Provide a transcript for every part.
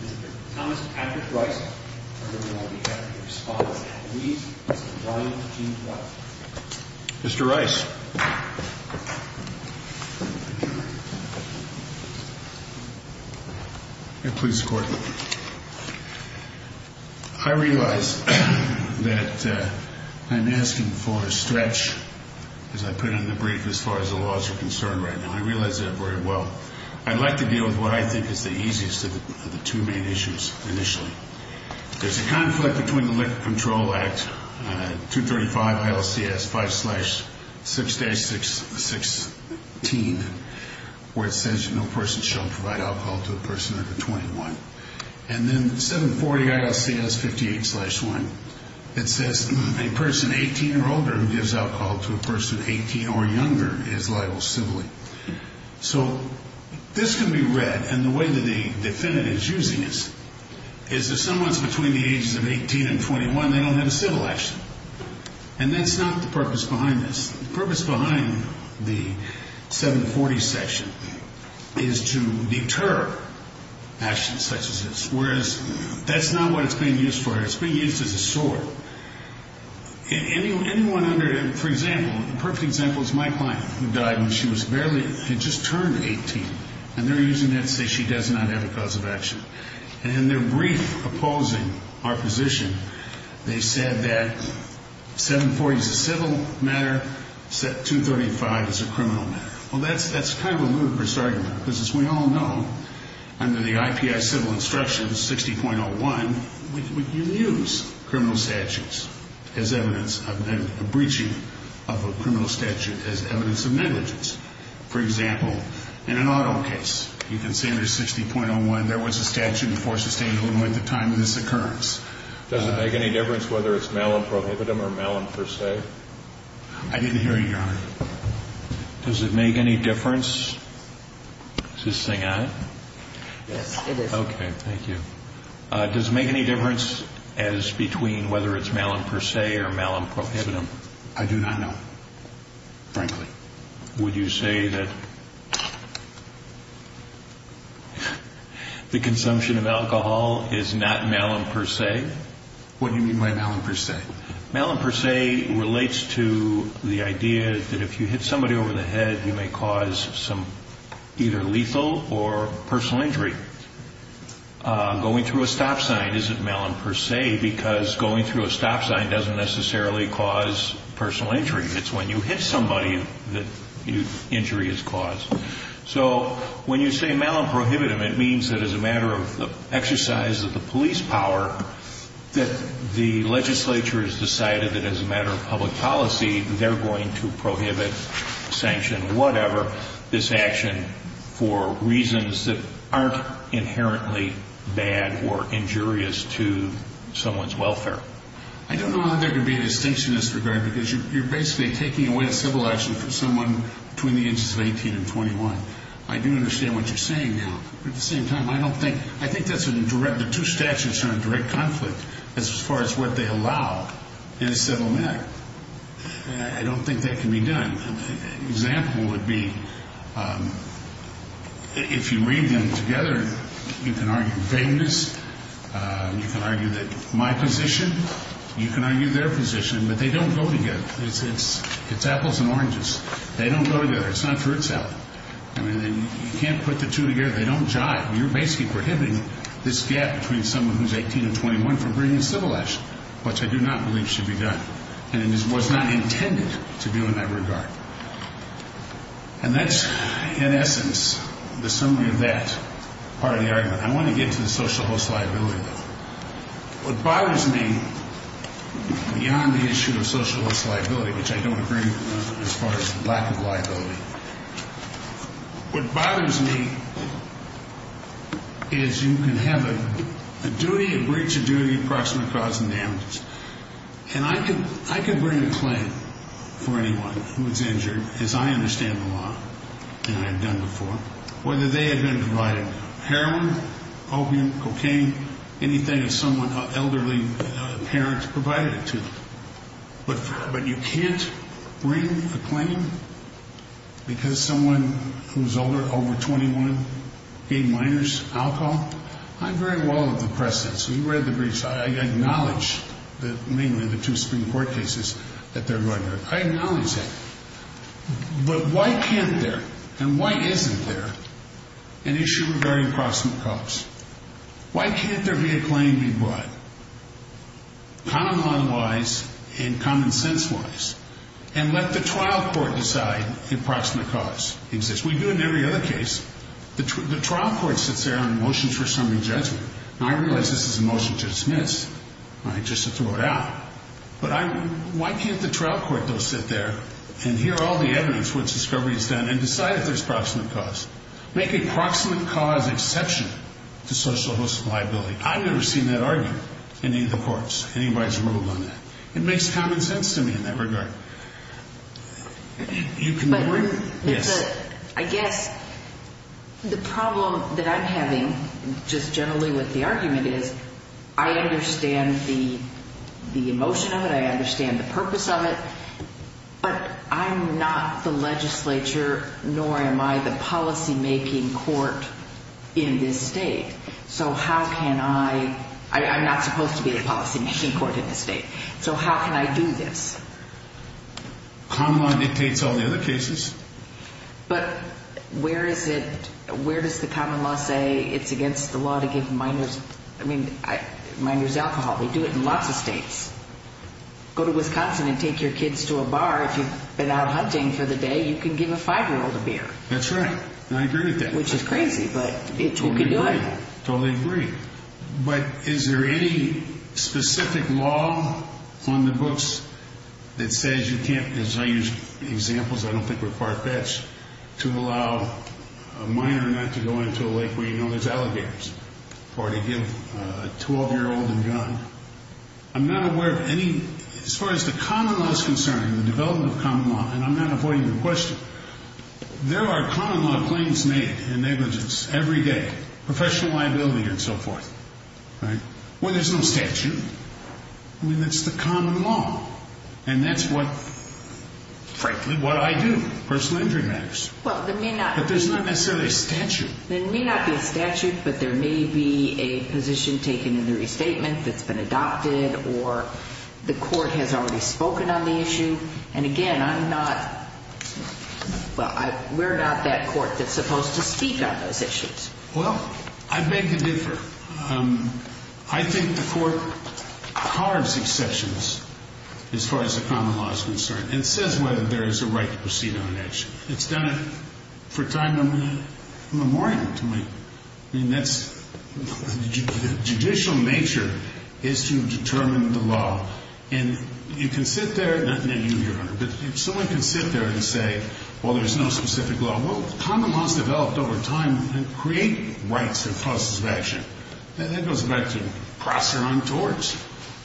Mr. Thomas Patrick Rice, on behalf of the Respondents' Athletes, Mr. Brian G. Dwight. Mr. Rice, I realize that I'm asking for a stretch, as I put it in the brief, as far as the laws are concerned right now. I realize that very well. I'd like to deal with what I think is the easiest of the two main issues initially. There's a conflict between the Liquor Control Act, 235 ILCS 5-6-6-16, where it says no person shall provide alcohol to a person under 21. And then 740 ILCS 58-1, it says a person 18 or older who gives alcohol to a person 18 or younger is liable civilly. So this can be read, and the way that the defendant is using this is that someone's between the ages of 18 and 21, they don't have a civil action. And that's not the purpose behind this. The purpose behind the 740 section is to deter actions such as this. Whereas that's not what it's being used for. It's being used as a sword. Anyone under, for example, a perfect example is my client who died when she was barely, had just turned 18. And they're using that to say she does not have a cause of action. And in their brief opposing our position, they said that 740 is a civil matter, 235 is a criminal matter. Well, that's kind of a ludicrous argument, because as we all know, under the IPI Civil Instructions 60.01, you use criminal statutes as evidence of, and a breaching of a criminal statute as evidence of negligence. For example, in an auto case, you can see under 60.01, there was a statute before Sustainable at the time of this occurrence. Does it make any difference whether it's malum prohibitum or malum per se? I didn't hear you, Your Honor. Does it make any difference? Is this thing on? Yes, it is. Okay, thank you. Does it make any difference as between whether it's malum per se or malum prohibitum? I do not know, frankly. Would you say that the consumption of alcohol is not malum per se? What do you mean by malum per se? Malum per se relates to the idea that if you hit somebody over the head, you may cause some either lethal or personal injury. Going through a stop sign isn't malum per se, because going through a stop sign doesn't necessarily cause personal injury. It's when you hit somebody that injury is caused. So when you say malum prohibitum, it means that as a matter of the exercise of the police power, that the legislature has decided that as a matter of public policy, they're going to prohibit, sanction, whatever, this action for reasons that aren't inherently bad or injurious to someone's welfare. I don't know how there can be a distinction in this regard, because you're basically taking away a civil action from someone between the ages of 18 and 21. I do understand what you're saying now, but at the same time, I don't think, I think that's a direct, the two statutes are in direct conflict as far as what they allow in a civil matter. I don't think that can be done. My example would be, if you read them together, you can argue vagueness, you can argue that my position, you can argue their position, but they don't go together. It's apples and oranges. They don't go together. It's not for itself. I mean, you can't put the two together. They don't jive. You're basically prohibiting this gap between someone who's 18 and 21 from bringing a civil action, which I do not believe should be done. And it was not intended to be in that regard. And that's, in essence, the summary of that part of the argument. I want to get to the social host liability, though. What bothers me beyond the issue of social host liability, which I don't agree as far as lack of liability, what bothers me is you can have a duty, a breach of duty, approximate cause and damages. And I can bring a claim for anyone who is injured, as I understand the law and I have done before, whether they have been provided heroin, opium, cocaine, anything someone, an elderly parent provided it to. But you can't bring a claim because someone who's older, over 21, gave minors alcohol. I very well have depressed that. So you read the briefs. I acknowledge that mainly the two Supreme Court cases that they're going to. I acknowledge that. But why can't there and why isn't there an issue regarding approximate cause? Why can't there be a claim being brought, common law-wise and common sense-wise, and let the trial court decide approximate cause exists? We do it in every other case. The trial court sits there on motions for summary judgment. Now, I realize this is a motion to dismiss, right, just to throw it out. But why can't the trial court, though, sit there and hear all the evidence, what discovery is done, and decide if there's approximate cause? Make an approximate cause exception to social host liability. I've never seen that argued in any of the courts, anybody's ruled on that. It makes common sense to me in that regard. But I guess the problem that I'm having just generally with the argument is I understand the emotion of it, I understand the purpose of it, but I'm not the legislature, nor am I the policymaking court in this state. So how can I – I'm not supposed to be the policymaking court in this state. So how can I do this? Common law dictates all the other cases. But where is it – where does the common law say it's against the law to give minors – I mean, minors alcohol. We do it in lots of states. Go to Wisconsin and take your kids to a bar. If you've been out hunting for the day, you can give a 5-year-old a beer. That's right, and I agree with that. Which is crazy, but you can do it. Totally agree. But is there any specific law on the books that says you can't – because I use examples I don't think were far-fetched – to allow a minor not to go into a lake where you know there's alligators or to give a 12-year-old a gun. I'm not aware of any – as far as the common law is concerned, the development of common law, and I'm not avoiding the question, but there are common law claims made in negligence every day, professional liability and so forth, right? Well, there's no statute. I mean, that's the common law, and that's what – frankly, what I do. Personal injury matters. But there's not necessarily a statute. There may not be a statute, but there may be a position taken in the restatement that's been adopted or the court has already spoken on the issue. And again, I'm not – well, we're not that court that's supposed to speak on those issues. Well, I beg to differ. I think the court carves exceptions as far as the common law is concerned and says whether there is a right to proceed on an issue. It's done it for time immemorial to me. I mean, that's – the judicial nature is to determine the law. And you can sit there – not you, Your Honor, but someone can sit there and say, well, there's no specific law. Well, common law has developed over time to create rights and process of action. That goes back to cross your own torch.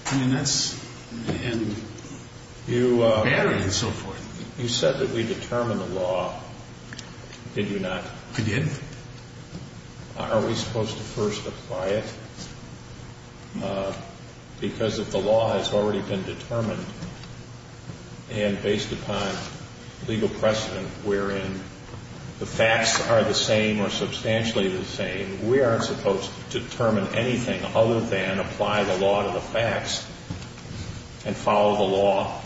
I mean, that's – and battery and so forth. You said that we determined the law. Did you not? I did. Are we supposed to first apply it? Because if the law has already been determined and based upon legal precedent wherein the facts are the same or substantially the same, we aren't supposed to determine anything other than apply the law to the facts and follow the law.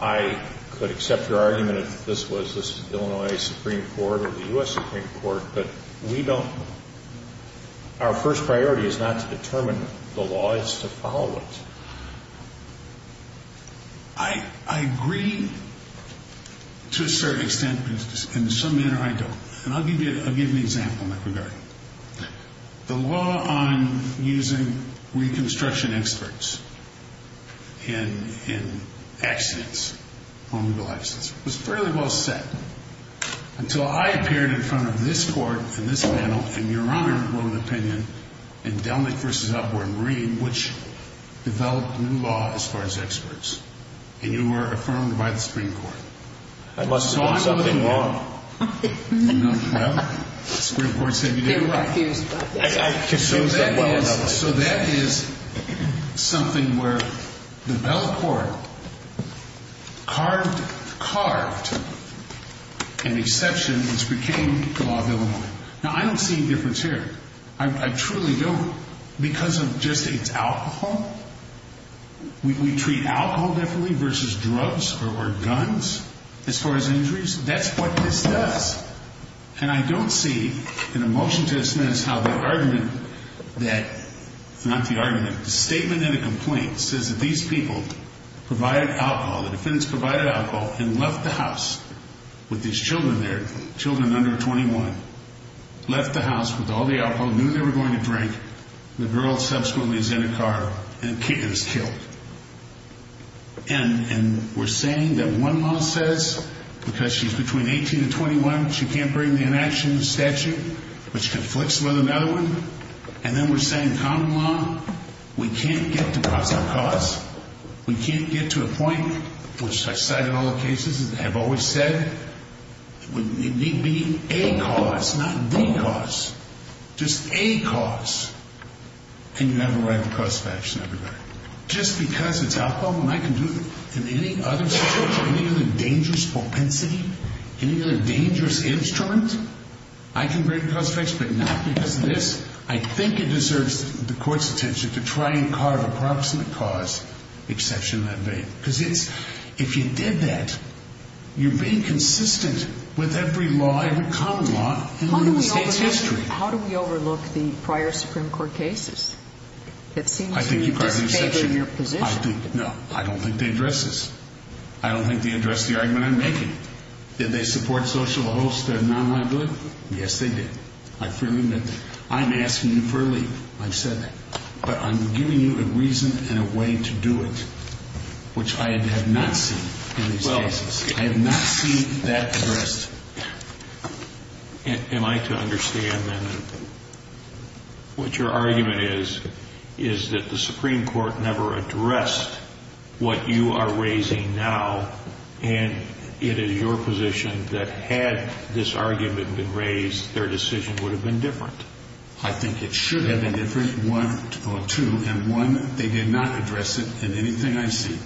I could accept your argument that this was the Illinois Supreme Court or the U.S. Supreme Court, but we don't – our first priority is not to determine the law, it's to follow it. I agree to a certain extent, but in some manner I don't. The law on using reconstruction experts in accidents, on legal accidents, was fairly well set until I appeared in front of this Court and this panel and Your Honor wrote an opinion in Delnick v. Upward Marine, which developed a new law as far as experts, and you were affirmed by the Supreme Court. I must have done something wrong. Well, the Supreme Court said you did it right. So that is something where the Bell Court carved an exception which became the law of Illinois. Now, I don't see a difference here. I truly don't because of just its alcohol. We treat alcohol differently versus drugs or guns as far as injuries. That's what this does. And I don't see in a motion to dismiss how the argument that – not the argument, the statement in the complaint says that these people provided alcohol, the defendants provided alcohol and left the house with these children there, children under 21, left the house with all the alcohol, knew they were going to drink. The girl subsequently is in a car and is killed. And we're saying that one law says because she's between 18 and 21, she can't bring the inaction statute, which conflicts with another one. And then we're saying common law, we can't get to a cause. We can't get to a point, which I cite in all the cases and have always said, it would need to be a cause, not the cause, just a cause. And you have a right to cross-section everybody. Just because it's alcohol, and I can do it in any other situation, any other dangerous propensity, any other dangerous instrument, I can bring cross-section, but not because of this. I think it deserves the Court's attention to try and carve a proximate cause exception that way. Because it's – if you did that, you're being consistent with every law, every common law in the United States' history. How do we overlook the prior Supreme Court cases? It seems to me you're disfavoring your position. I think you carve an exception. I think – no. I don't think they address this. I don't think they address the argument I'm making. Did they support social host and non-lab-related? Yes, they did. I freely admit that. I'm asking you for a leave. I've said that. But I'm giving you a reason and a way to do it, which I have not seen in these cases. I have not seen that addressed. Am I to understand, then, that what your argument is, is that the Supreme Court never addressed what you are raising now, and it is your position that had this argument been raised, their decision would have been different. I think it should have been different, one or two. And one, they did not address it in anything I see.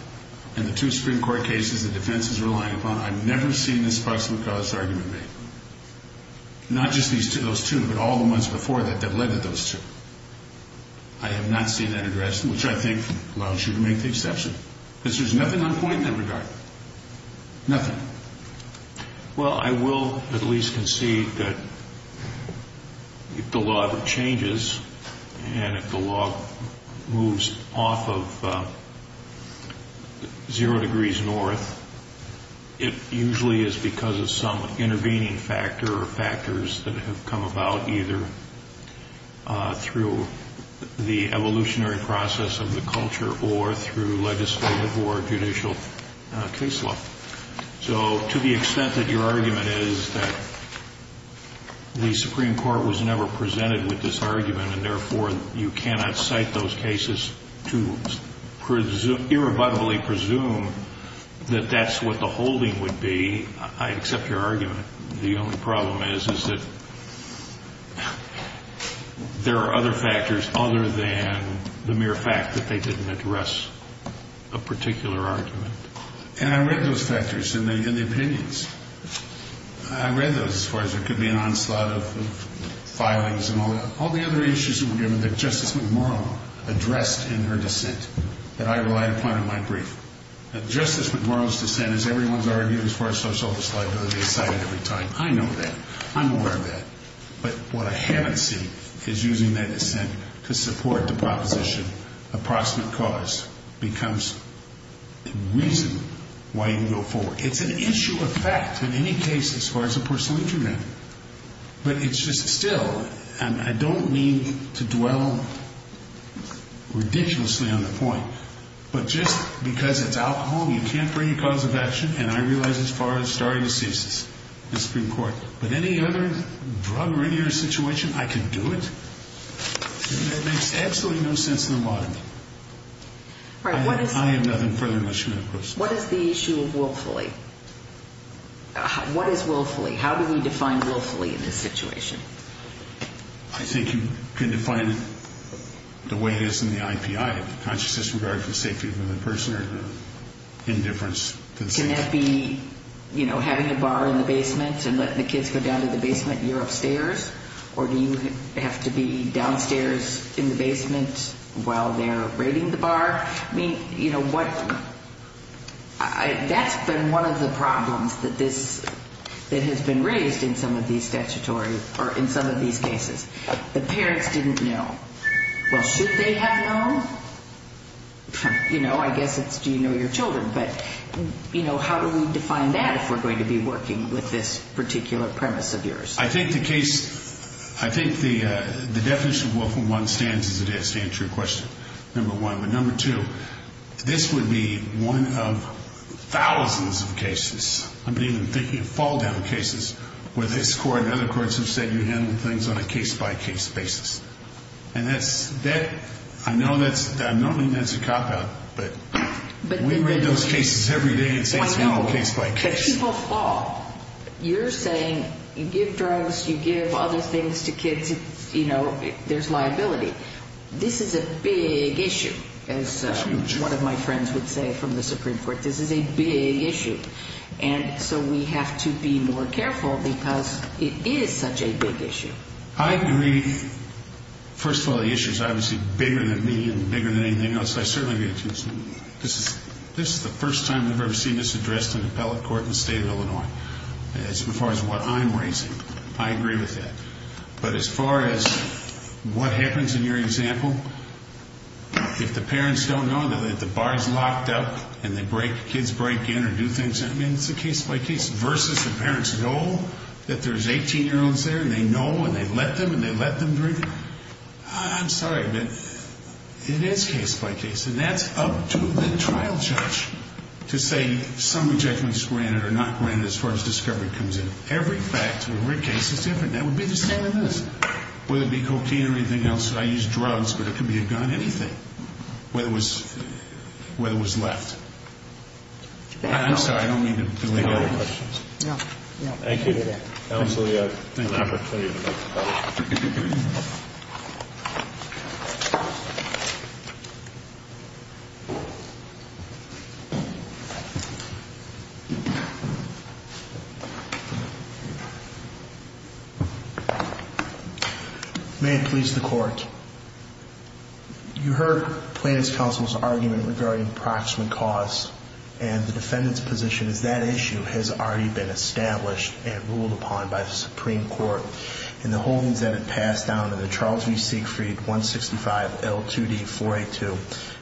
In the two Supreme Court cases the defense is relying upon, I've never seen the sparks of a cause argument made. Not just those two, but all the ones before that that led to those two. I have not seen that addressed, which I think allows you to make the exception. Because there's nothing on point in that regard. Nothing. Well, I will at least concede that if the law ever changes and if the law moves off of zero degrees north, it usually is because of some intervening factor or factors that have come about, either through the evolutionary process of the culture or through legislative or judicial case law. So to the extent that your argument is that the Supreme Court was never presented with this argument and therefore you cannot cite those cases to irrevocably presume that that's what the holding would be, I accept your argument. The only problem is that there are other factors other than the mere fact that they didn't address a particular argument. And I read those factors in the opinions. I read those as far as there could be an onslaught of filings and all the other issues that were given that Justice McMurrow addressed in her dissent that I relied upon in my brief. Justice McMurrow's dissent is everyone's argument as far as social liability is cited every time. I know that. I'm aware of that. But what I haven't seen is using that dissent to support the proposition approximate cause becomes the reason why you go forward. It's an issue of fact in any case as far as a personal interest. But it's just still, and I don't mean to dwell ridiculously on the point, but just because it's alcohol you can't bring a cause of action and I realize as far as starting a thesis in the Supreme Court. With any other drug or any other situation, I can do it. It makes absolutely no sense in the modern day. I have nothing further to say. What is the issue of willfully? What is willfully? How do we define willfully in this situation? I think you can define it the way it is in the IPI. Conscious disregard for the safety of another person or indifference. Can that be having a bar in the basement and letting the kids go down to the basement and you're upstairs? Or do you have to be downstairs in the basement while they're raiding the bar? That's been one of the problems that has been raised in some of these statutory, or in some of these cases. The parents didn't know. Well, should they have known? I guess it's do you know your children? But how do we define that if we're going to be working with this particular premise of yours? I think the definition of willfully stands as it is to answer your question, number one. But number two, this would be one of thousands of cases. I've been even thinking of fall-down cases where this court and other courts have said you handle things on a case-by-case basis. And that's, I know that's, I'm not saying that's a cop-out, but we read those cases every day and say it's handled case-by-case. When people fall, you're saying you give drugs, you give other things to kids, you know, there's liability. This is a big issue, as one of my friends would say from the Supreme Court. This is a big issue. And so we have to be more careful because it is such a big issue. I agree. First of all, the issue is obviously bigger than me and bigger than anything else. I certainly agree with you. This is the first time I've ever seen this addressed in appellate court in the state of Illinois. As far as what I'm raising, I agree with that. But as far as what happens in your example, if the parents don't know that the bar is locked up and kids break in or do things, I mean, it's a case-by-case. Versus the parents know that there's 18-year-olds there and they know and they let them and they let them drink. I'm sorry, but it is case-by-case. And that's up to the trial judge to say some rejectments granted or not granted as far as discovery comes in. Every fact in every case is different. That would be the same as this, whether it be cocaine or anything else. I use drugs, but it could be a gun, anything, whether it was left. I'm sorry. I don't mean to delay your questions. No, no. Thank you. Absolutely. Thank you. May it please the Court. You heard Plaintiff's counsel's argument regarding approximate cause and the defendant's position is that issue has already been established and ruled upon by the Supreme Court. And the holdings that it passed down are the Charles v. Siegfried 165L2D482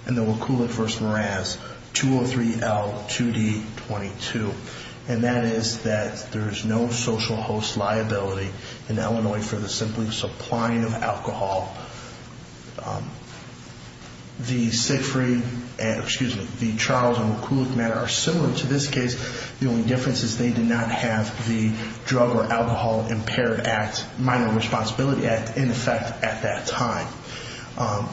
and the Wakulik v. Meraz 203L2D22. And that is that there is no social host liability in Illinois for the simply supplying of alcohol. The Siegfried and, excuse me, the Charles and Wakulik matter are similar to this case. The only difference is they did not have the Drug or Alcohol Impaired Act, Minor Responsibility Act, in effect at that time.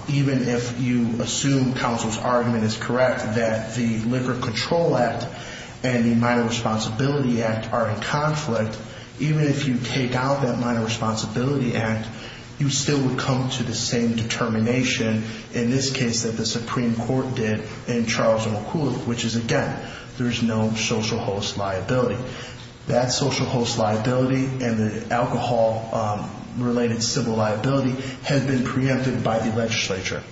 Even if you assume counsel's argument is correct that the Liquor Control Act and the Minor Responsibility Act are in conflict, even if you take out that Minor Responsibility Act, you still would come to the same determination in this case that the Supreme Court did in Charles and Wakulik, which is, again, there is no social host liability. That social host liability and the alcohol-related civil liability has been preempted by the legislature.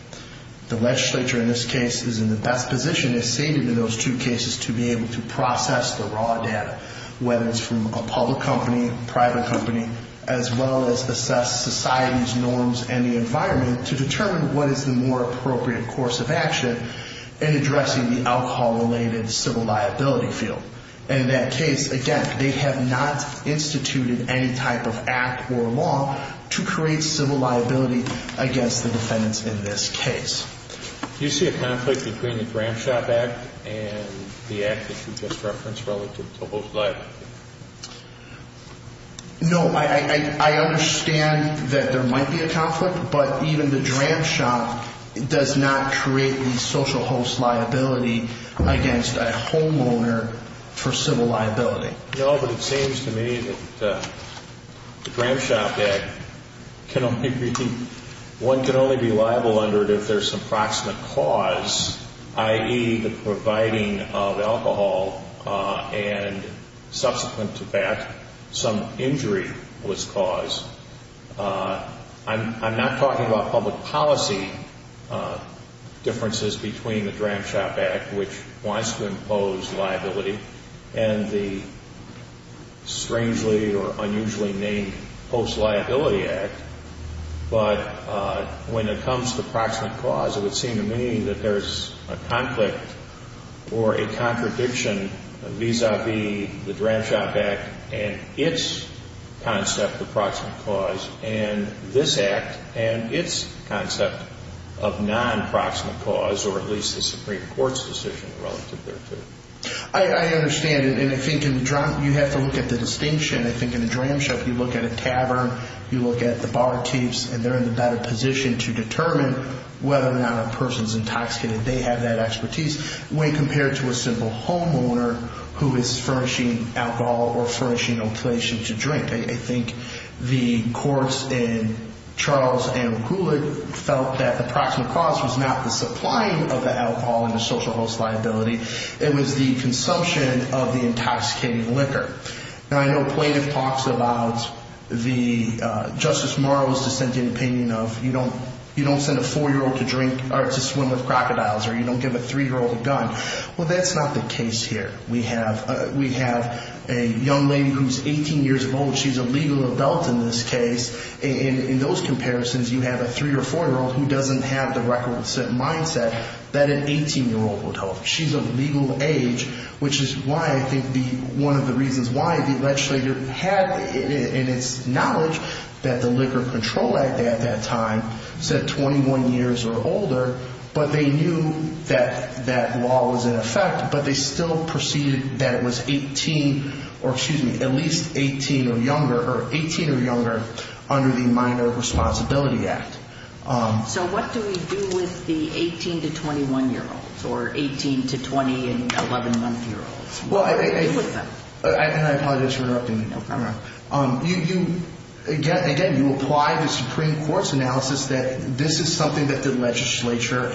The legislature in this case is in the best position, is saving in those two cases to be able to process the raw data, whether it's from a public company, private company, as well as assess society's norms and the environment to determine what is the more appropriate course of action in addressing the alcohol-related civil liability field. And in that case, again, they have not instituted any type of act or law to create civil liability against the defendants in this case. Do you see a conflict between the Dram Shop Act and the act that you just referenced relative to host liability? No. I understand that there might be a conflict, but even the Dram Shop does not create the social host liability against a homeowner for civil liability. No, but it seems to me that the Dram Shop Act can only be, one can only be liable under it if there's some proximate cause, i.e., the providing of alcohol and subsequent to that, some injury was caused. I'm not talking about public policy differences between the Dram Shop Act, which wants to impose liability, and the strangely or unusually named Host Liability Act, but when it comes to proximate cause, it would seem to me that there's a conflict or a contradiction vis-a-vis the Dram Shop Act and its concept of proximate cause and this act and its concept of non-proximate cause or at least the Supreme Court's decision relative thereto. I understand, and I think in the Dram, you have to look at the distinction. I think in the Dram Shop, you look at a tavern, you look at the barkeeps, and they're in the better position to determine whether or not a person's intoxicated. They have that expertise when compared to a simple homeowner who is furnishing alcohol or furnishing a place to drink. I think the courts in Charles and Goulet felt that the proximate cause was not the supplying of the alcohol and the social host liability. It was the consumption of the intoxicating liquor. Now, I know plaintiff talks about Justice Morrow's dissenting opinion of you don't send a 4-year-old to drink or to swim with crocodiles or you don't give a 3-year-old a gun. Well, that's not the case here. We have a young lady who's 18 years old. She's a legal adult in this case. In those comparisons, you have a 3- or 4-year-old who doesn't have the record-set mindset that an 18-year-old would hold. She's of legal age, which is why I think one of the reasons why the legislator had in its knowledge that the Liquor Control Act at that time said 21 years or older, but they knew that that law was in effect, but they still proceeded that it was at least 18 or younger under the Minor Responsibility Act. So what do we do with the 18- to 21-year-olds or 18- to 20- and 11-month-year-olds? What do we do with them? And I apologize for interrupting you. No problem. Again, you apply the Supreme Court's analysis that this is something that the legislature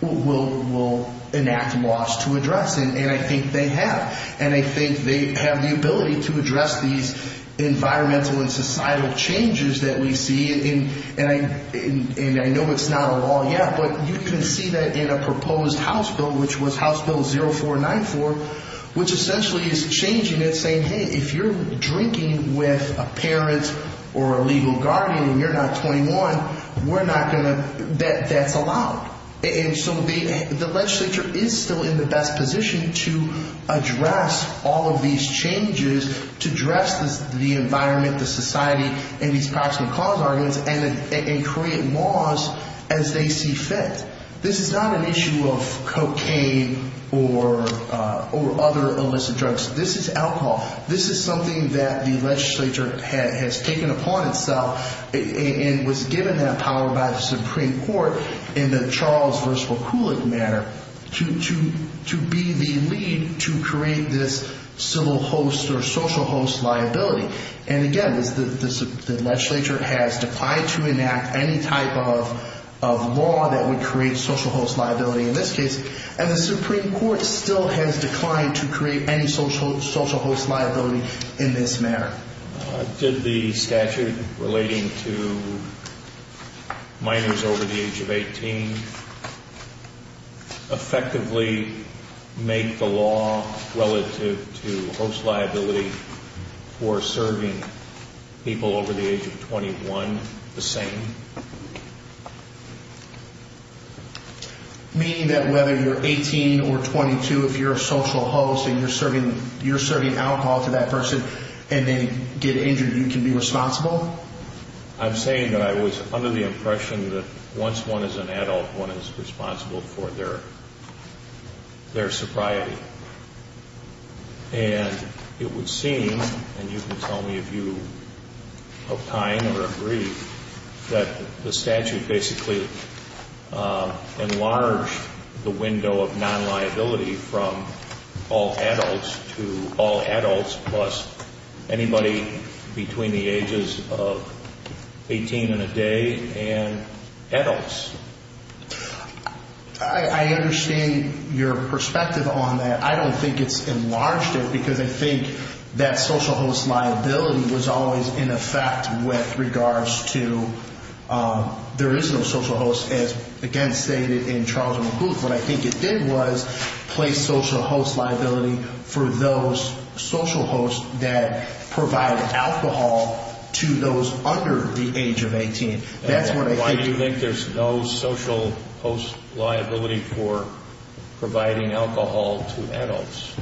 will enact laws to address, and I think they have. And I think they have the ability to address these environmental and societal changes that we see. And I know it's not a law yet, but you can see that in a proposed House bill, which was House Bill 0494, which essentially is changing it, saying, hey, if you're drinking with a parent or a legal guardian and you're not 21, that's allowed. And so the legislature is still in the best position to address all of these changes, to address the environment, the society, and these proximate cause arguments and create laws as they see fit. This is not an issue of cocaine or other illicit drugs. This is alcohol. This is something that the legislature has taken upon itself and was given that power by the Supreme Court in the Charles v. Kulick matter to be the lead to create this civil host or social host liability. And, again, the legislature has declined to enact any type of law that would create social host liability in this case, and the Supreme Court still has declined to create any social host liability in this matter. Did the statute relating to minors over the age of 18 effectively make the law relative to host liability for serving people over the age of 21 the same? Meaning that whether you're 18 or 22, if you're a social host and you're serving alcohol to that person and they get injured, you can be responsible? I'm saying that I was under the impression that once one is an adult, one is responsible for their sobriety. And it would seem, and you can tell me if you opine or agree, that the statute basically enlarged the window of non-liability from all adults to all adults plus anybody between the ages of 18 and a day and adults. I understand your perspective on that. I don't think it's enlarged it because I think that social host liability was always in effect with regards to there is no social host, as again stated in Charles and McCluth. What I think it did was place social host liability for those social hosts that provide alcohol to those under the age of 18. Why do you think there's no social host liability for providing alcohol to adults?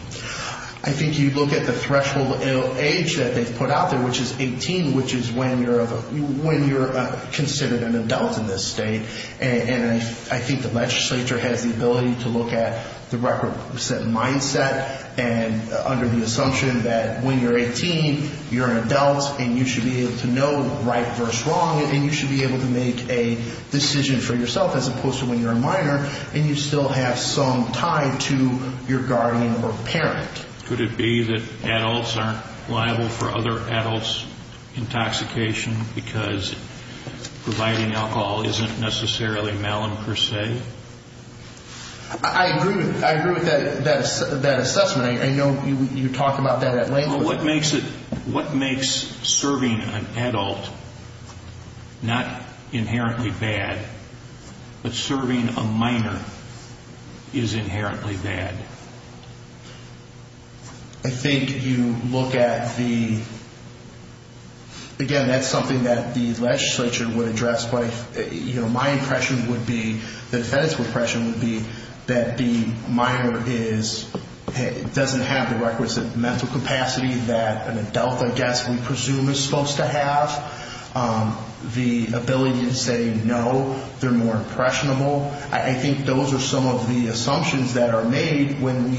I think you look at the threshold age that they've put out there, which is 18, which is when you're considered an adult in this state. And I think the legislature has the ability to look at the record set mindset under the assumption that when you're 18, you're an adult and you should be able to know right versus wrong and you should be able to make a decision for yourself as opposed to when you're a minor and you still have some tie to your guardian or parent. Could it be that adults aren't liable for other adults' intoxication because providing alcohol isn't necessarily male in per se? I agree with that assessment. I know you talk about that at length. What makes serving an adult not inherently bad, but serving a minor is inherently bad? I think you look at the, again, that's something that the legislature would address. My impression would be, the defendant's impression would be, that the minor doesn't have the requisite mental capacity that an adult, I guess, we presume is supposed to have. The ability to say no, they're more impressionable. I think those are some of the assumptions that are made when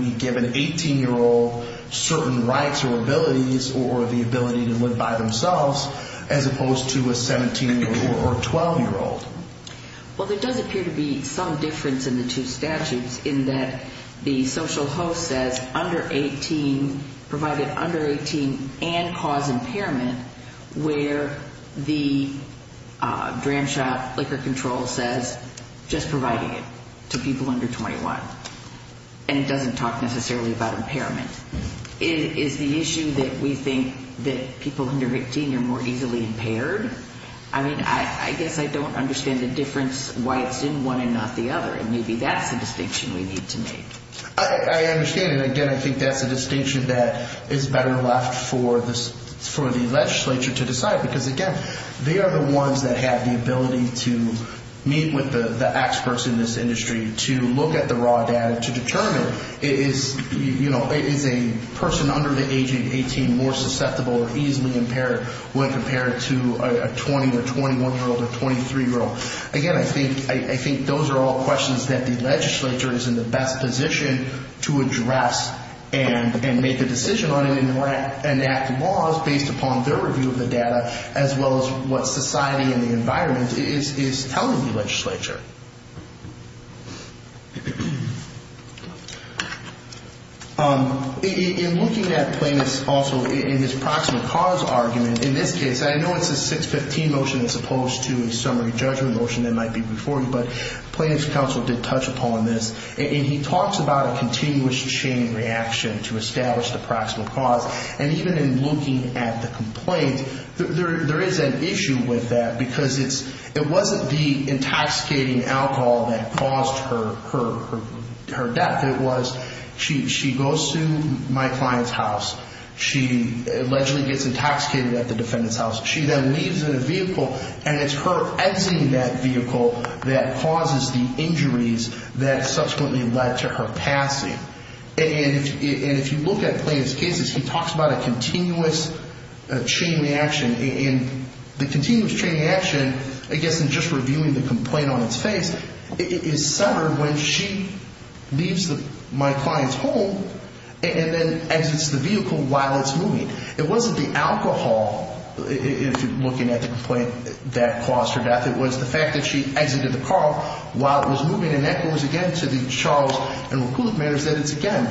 we give an 18-year-old certain rights or abilities or the ability to live by themselves as opposed to a 17-year-old or a 12-year-old. Well, there does appear to be some difference in the two statutes in that the social host says provided under 18 and cause impairment, where the dram shop liquor control says just providing it to people under 21. And it doesn't talk necessarily about impairment. Is the issue that we think that people under 18 are more easily impaired? I mean, I guess I don't understand the difference why it's in one and not the other, and maybe that's the distinction we need to make. I understand, and again, I think that's a distinction that is better left for the legislature to decide because, again, they are the ones that have the ability to meet with the experts in this industry to look at the raw data to determine is a person under the age of 18 more susceptible or easily impaired when compared to a 20- or 21-year-old or 23-year-old. Again, I think those are all questions that the legislature is in the best position to address and make a decision on and enact laws based upon their review of the data as well as what society and the environment is telling the legislature. In looking at Plaintiff's also in his proximal cause argument, in this case, I know it's a 615 motion as opposed to a summary judgment motion that might be before you, but Plaintiff's counsel did touch upon this, and he talks about a continuous chain reaction to establish the proximal cause. And even in looking at the complaint, there is an issue with that alcohol that caused her death. It was she goes to my client's house. She allegedly gets intoxicated at the defendant's house. She then leaves in a vehicle, and it's her exiting that vehicle that causes the injuries that subsequently led to her passing. And if you look at Plaintiff's case, he talks about a continuous chain reaction. And the continuous chain reaction, I guess in just reviewing the complaint on its face, is centered when she leaves my client's home and then exits the vehicle while it's moving. It wasn't the alcohol, if you're looking at the complaint, that caused her death. It was the fact that she exited the car while it was moving, and that goes again to the Charles and Wakuluk matters that it's, again,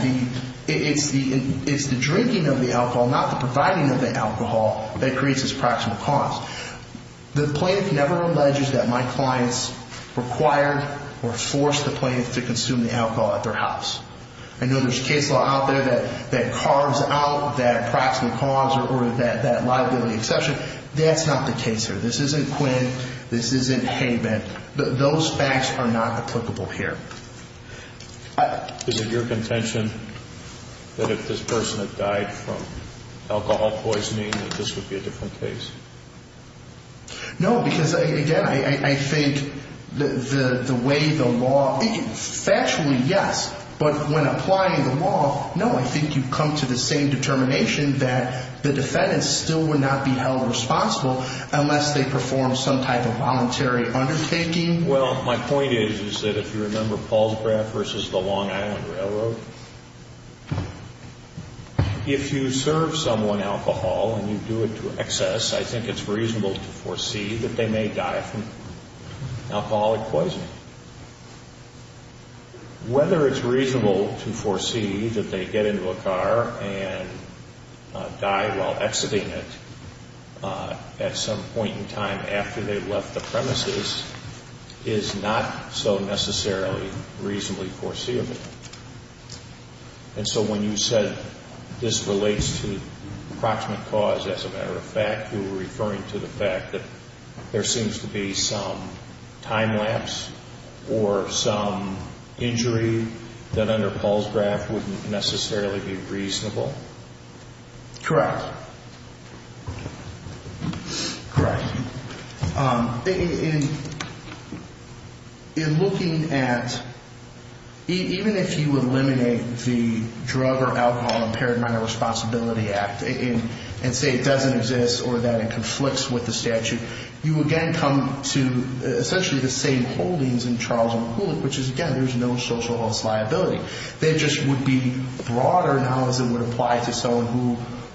it's the drinking of the alcohol, not the providing of the alcohol, that creates this proximal cause. The plaintiff never alleges that my clients required or forced the plaintiff to consume the alcohol at their house. I know there's case law out there that carves out that proximal cause or that liability exception. That's not the case here. This isn't Quinn. This isn't Haybent. Those facts are not applicable here. Is it your contention that if this person had died from alcohol poisoning that this would be a different case? No, because, again, I think the way the law, factually, yes. But when applying the law, no, I think you come to the same determination that the defendants still would not be held responsible unless they performed some type of voluntary undertaking. Well, my point is, is that if you remember Paul's graph versus the Long Island Railroad, if you serve someone alcohol and you do it to excess, I think it's reasonable to foresee that they may die from alcoholic poisoning. Whether it's reasonable to foresee that they get into a car and die while exiting it at some point in time after they've left the premises is not so necessarily reasonably foreseeable. And so when you said this relates to proximate cause, as a matter of fact, you were referring to the fact that there seems to be some time lapse or some injury that under Paul's graph wouldn't necessarily be reasonable? Correct. Correct. In looking at, even if you eliminate the Drug or Alcohol Impaired Minor Responsibility Act and say it doesn't exist or that it conflicts with the statute, you again come to essentially the same holdings in Charles M. Kulik, which is, again, there's no social health liability. That just would be broader now as it would apply to someone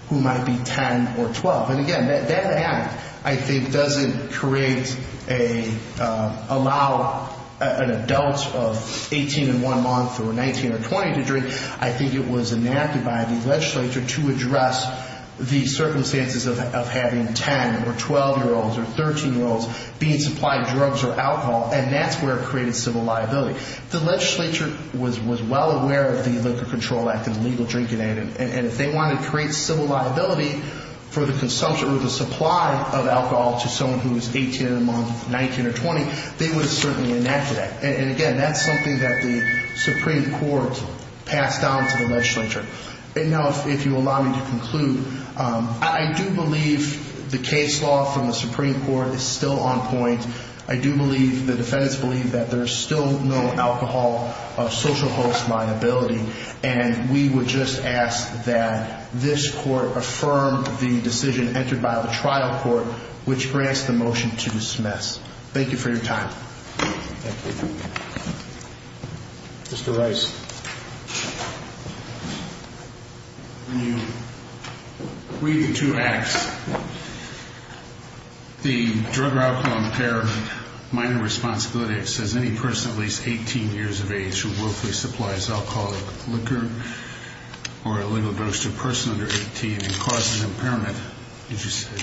who might be 10 or 12. And, again, that act, I think, doesn't create an adult of 18 and 1 month or 19 or 20 to drink. I think it was enacted by the legislature to address the circumstances of having 10- or 12-year-olds or 13-year-olds being supplied drugs or alcohol, and that's where it created civil liability. The legislature was well aware of the Liquor Control Act and the Legal Drinking Act, and if they wanted to create civil liability for the consumption or the supply of alcohol to someone who was 18 and 1 month, 19 or 20, they would have certainly enacted that. And, again, that's something that the Supreme Court passed down to the legislature. Now, if you'll allow me to conclude, I do believe the case law from the Supreme Court is still on point. I do believe the defendants believe that there's still no alcohol social health liability, and we would just ask that this court affirm the decision entered by the trial court, which grants the motion to dismiss. Thank you for your time. Thank you. Mr. Rice. When you read the two acts, the drug or alcohol impairment minor responsibility, it says any person at least 18 years of age who willfully supplies alcoholic liquor or illegal drugs to a person under 18 and causes impairment, as you say,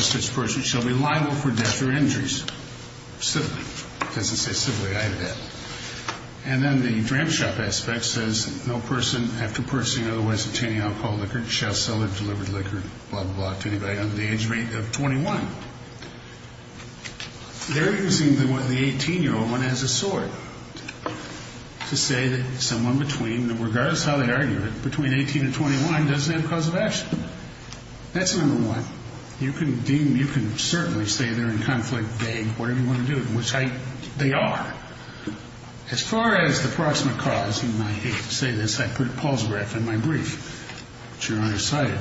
such person shall be liable for death or injuries, civilly. It doesn't say civilly. I have that. And then the dram shop aspect says no person, after purchasing or otherwise obtaining alcohol, liquor, shall sell or deliver liquor, blah, blah, blah, to anybody under the age of 21. They're using the 18-year-old one as a sword to say that someone between, regardless of how they argue it, between 18 and 21 doesn't have a cause of action. That's number one. You can deem, you can certainly say they're in conflict. What do you want to do? They are. As far as the proximate cause, and I hate to say this, I put a pause graph in my brief, but you're undecided.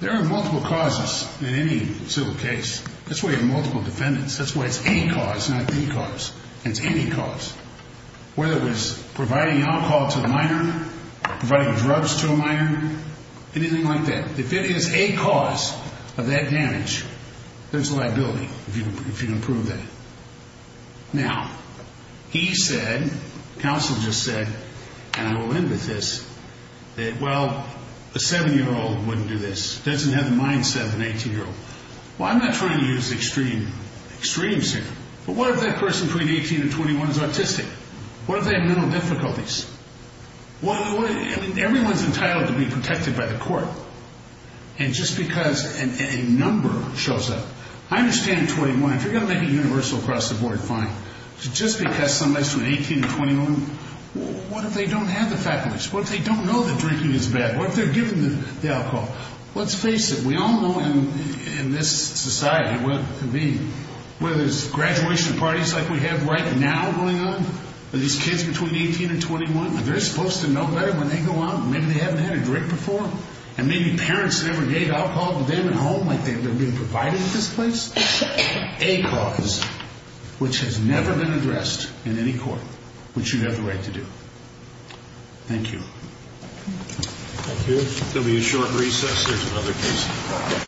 There are multiple causes in any civil case. That's why you have multiple defendants. That's why it's any cause, not any cause. It's any cause. Whether it was providing alcohol to a minor, providing drugs to a minor, anything like that. If it is a cause of that damage, there's a liability if you can prove that. Now, he said, counsel just said, and I will end with this, that, well, a 7-year-old wouldn't do this, doesn't have the mindset of an 18-year-old. Well, I'm not trying to use the extreme, extreme standard. But what if that person between 18 and 21 is autistic? What if they have mental difficulties? Everyone's entitled to be protected by the court, and just because a number shows up. I understand 21. If you're going to make it universal across the board, fine. But just because somebody's between 18 and 21, what if they don't have the faculties? What if they don't know that drinking is bad? What if they're given the alcohol? Let's face it. We all know in this society, whether it's graduation parties like we have right now going on, or these kids between 18 and 21, are they supposed to know better when they go out and maybe they haven't had a drink before? And maybe parents never gave alcohol to them at home like they've been provided at this place? A cause which has never been addressed in any court, which you have the right to do. Thank you. Thank you. There'll be a short recess. There's another case.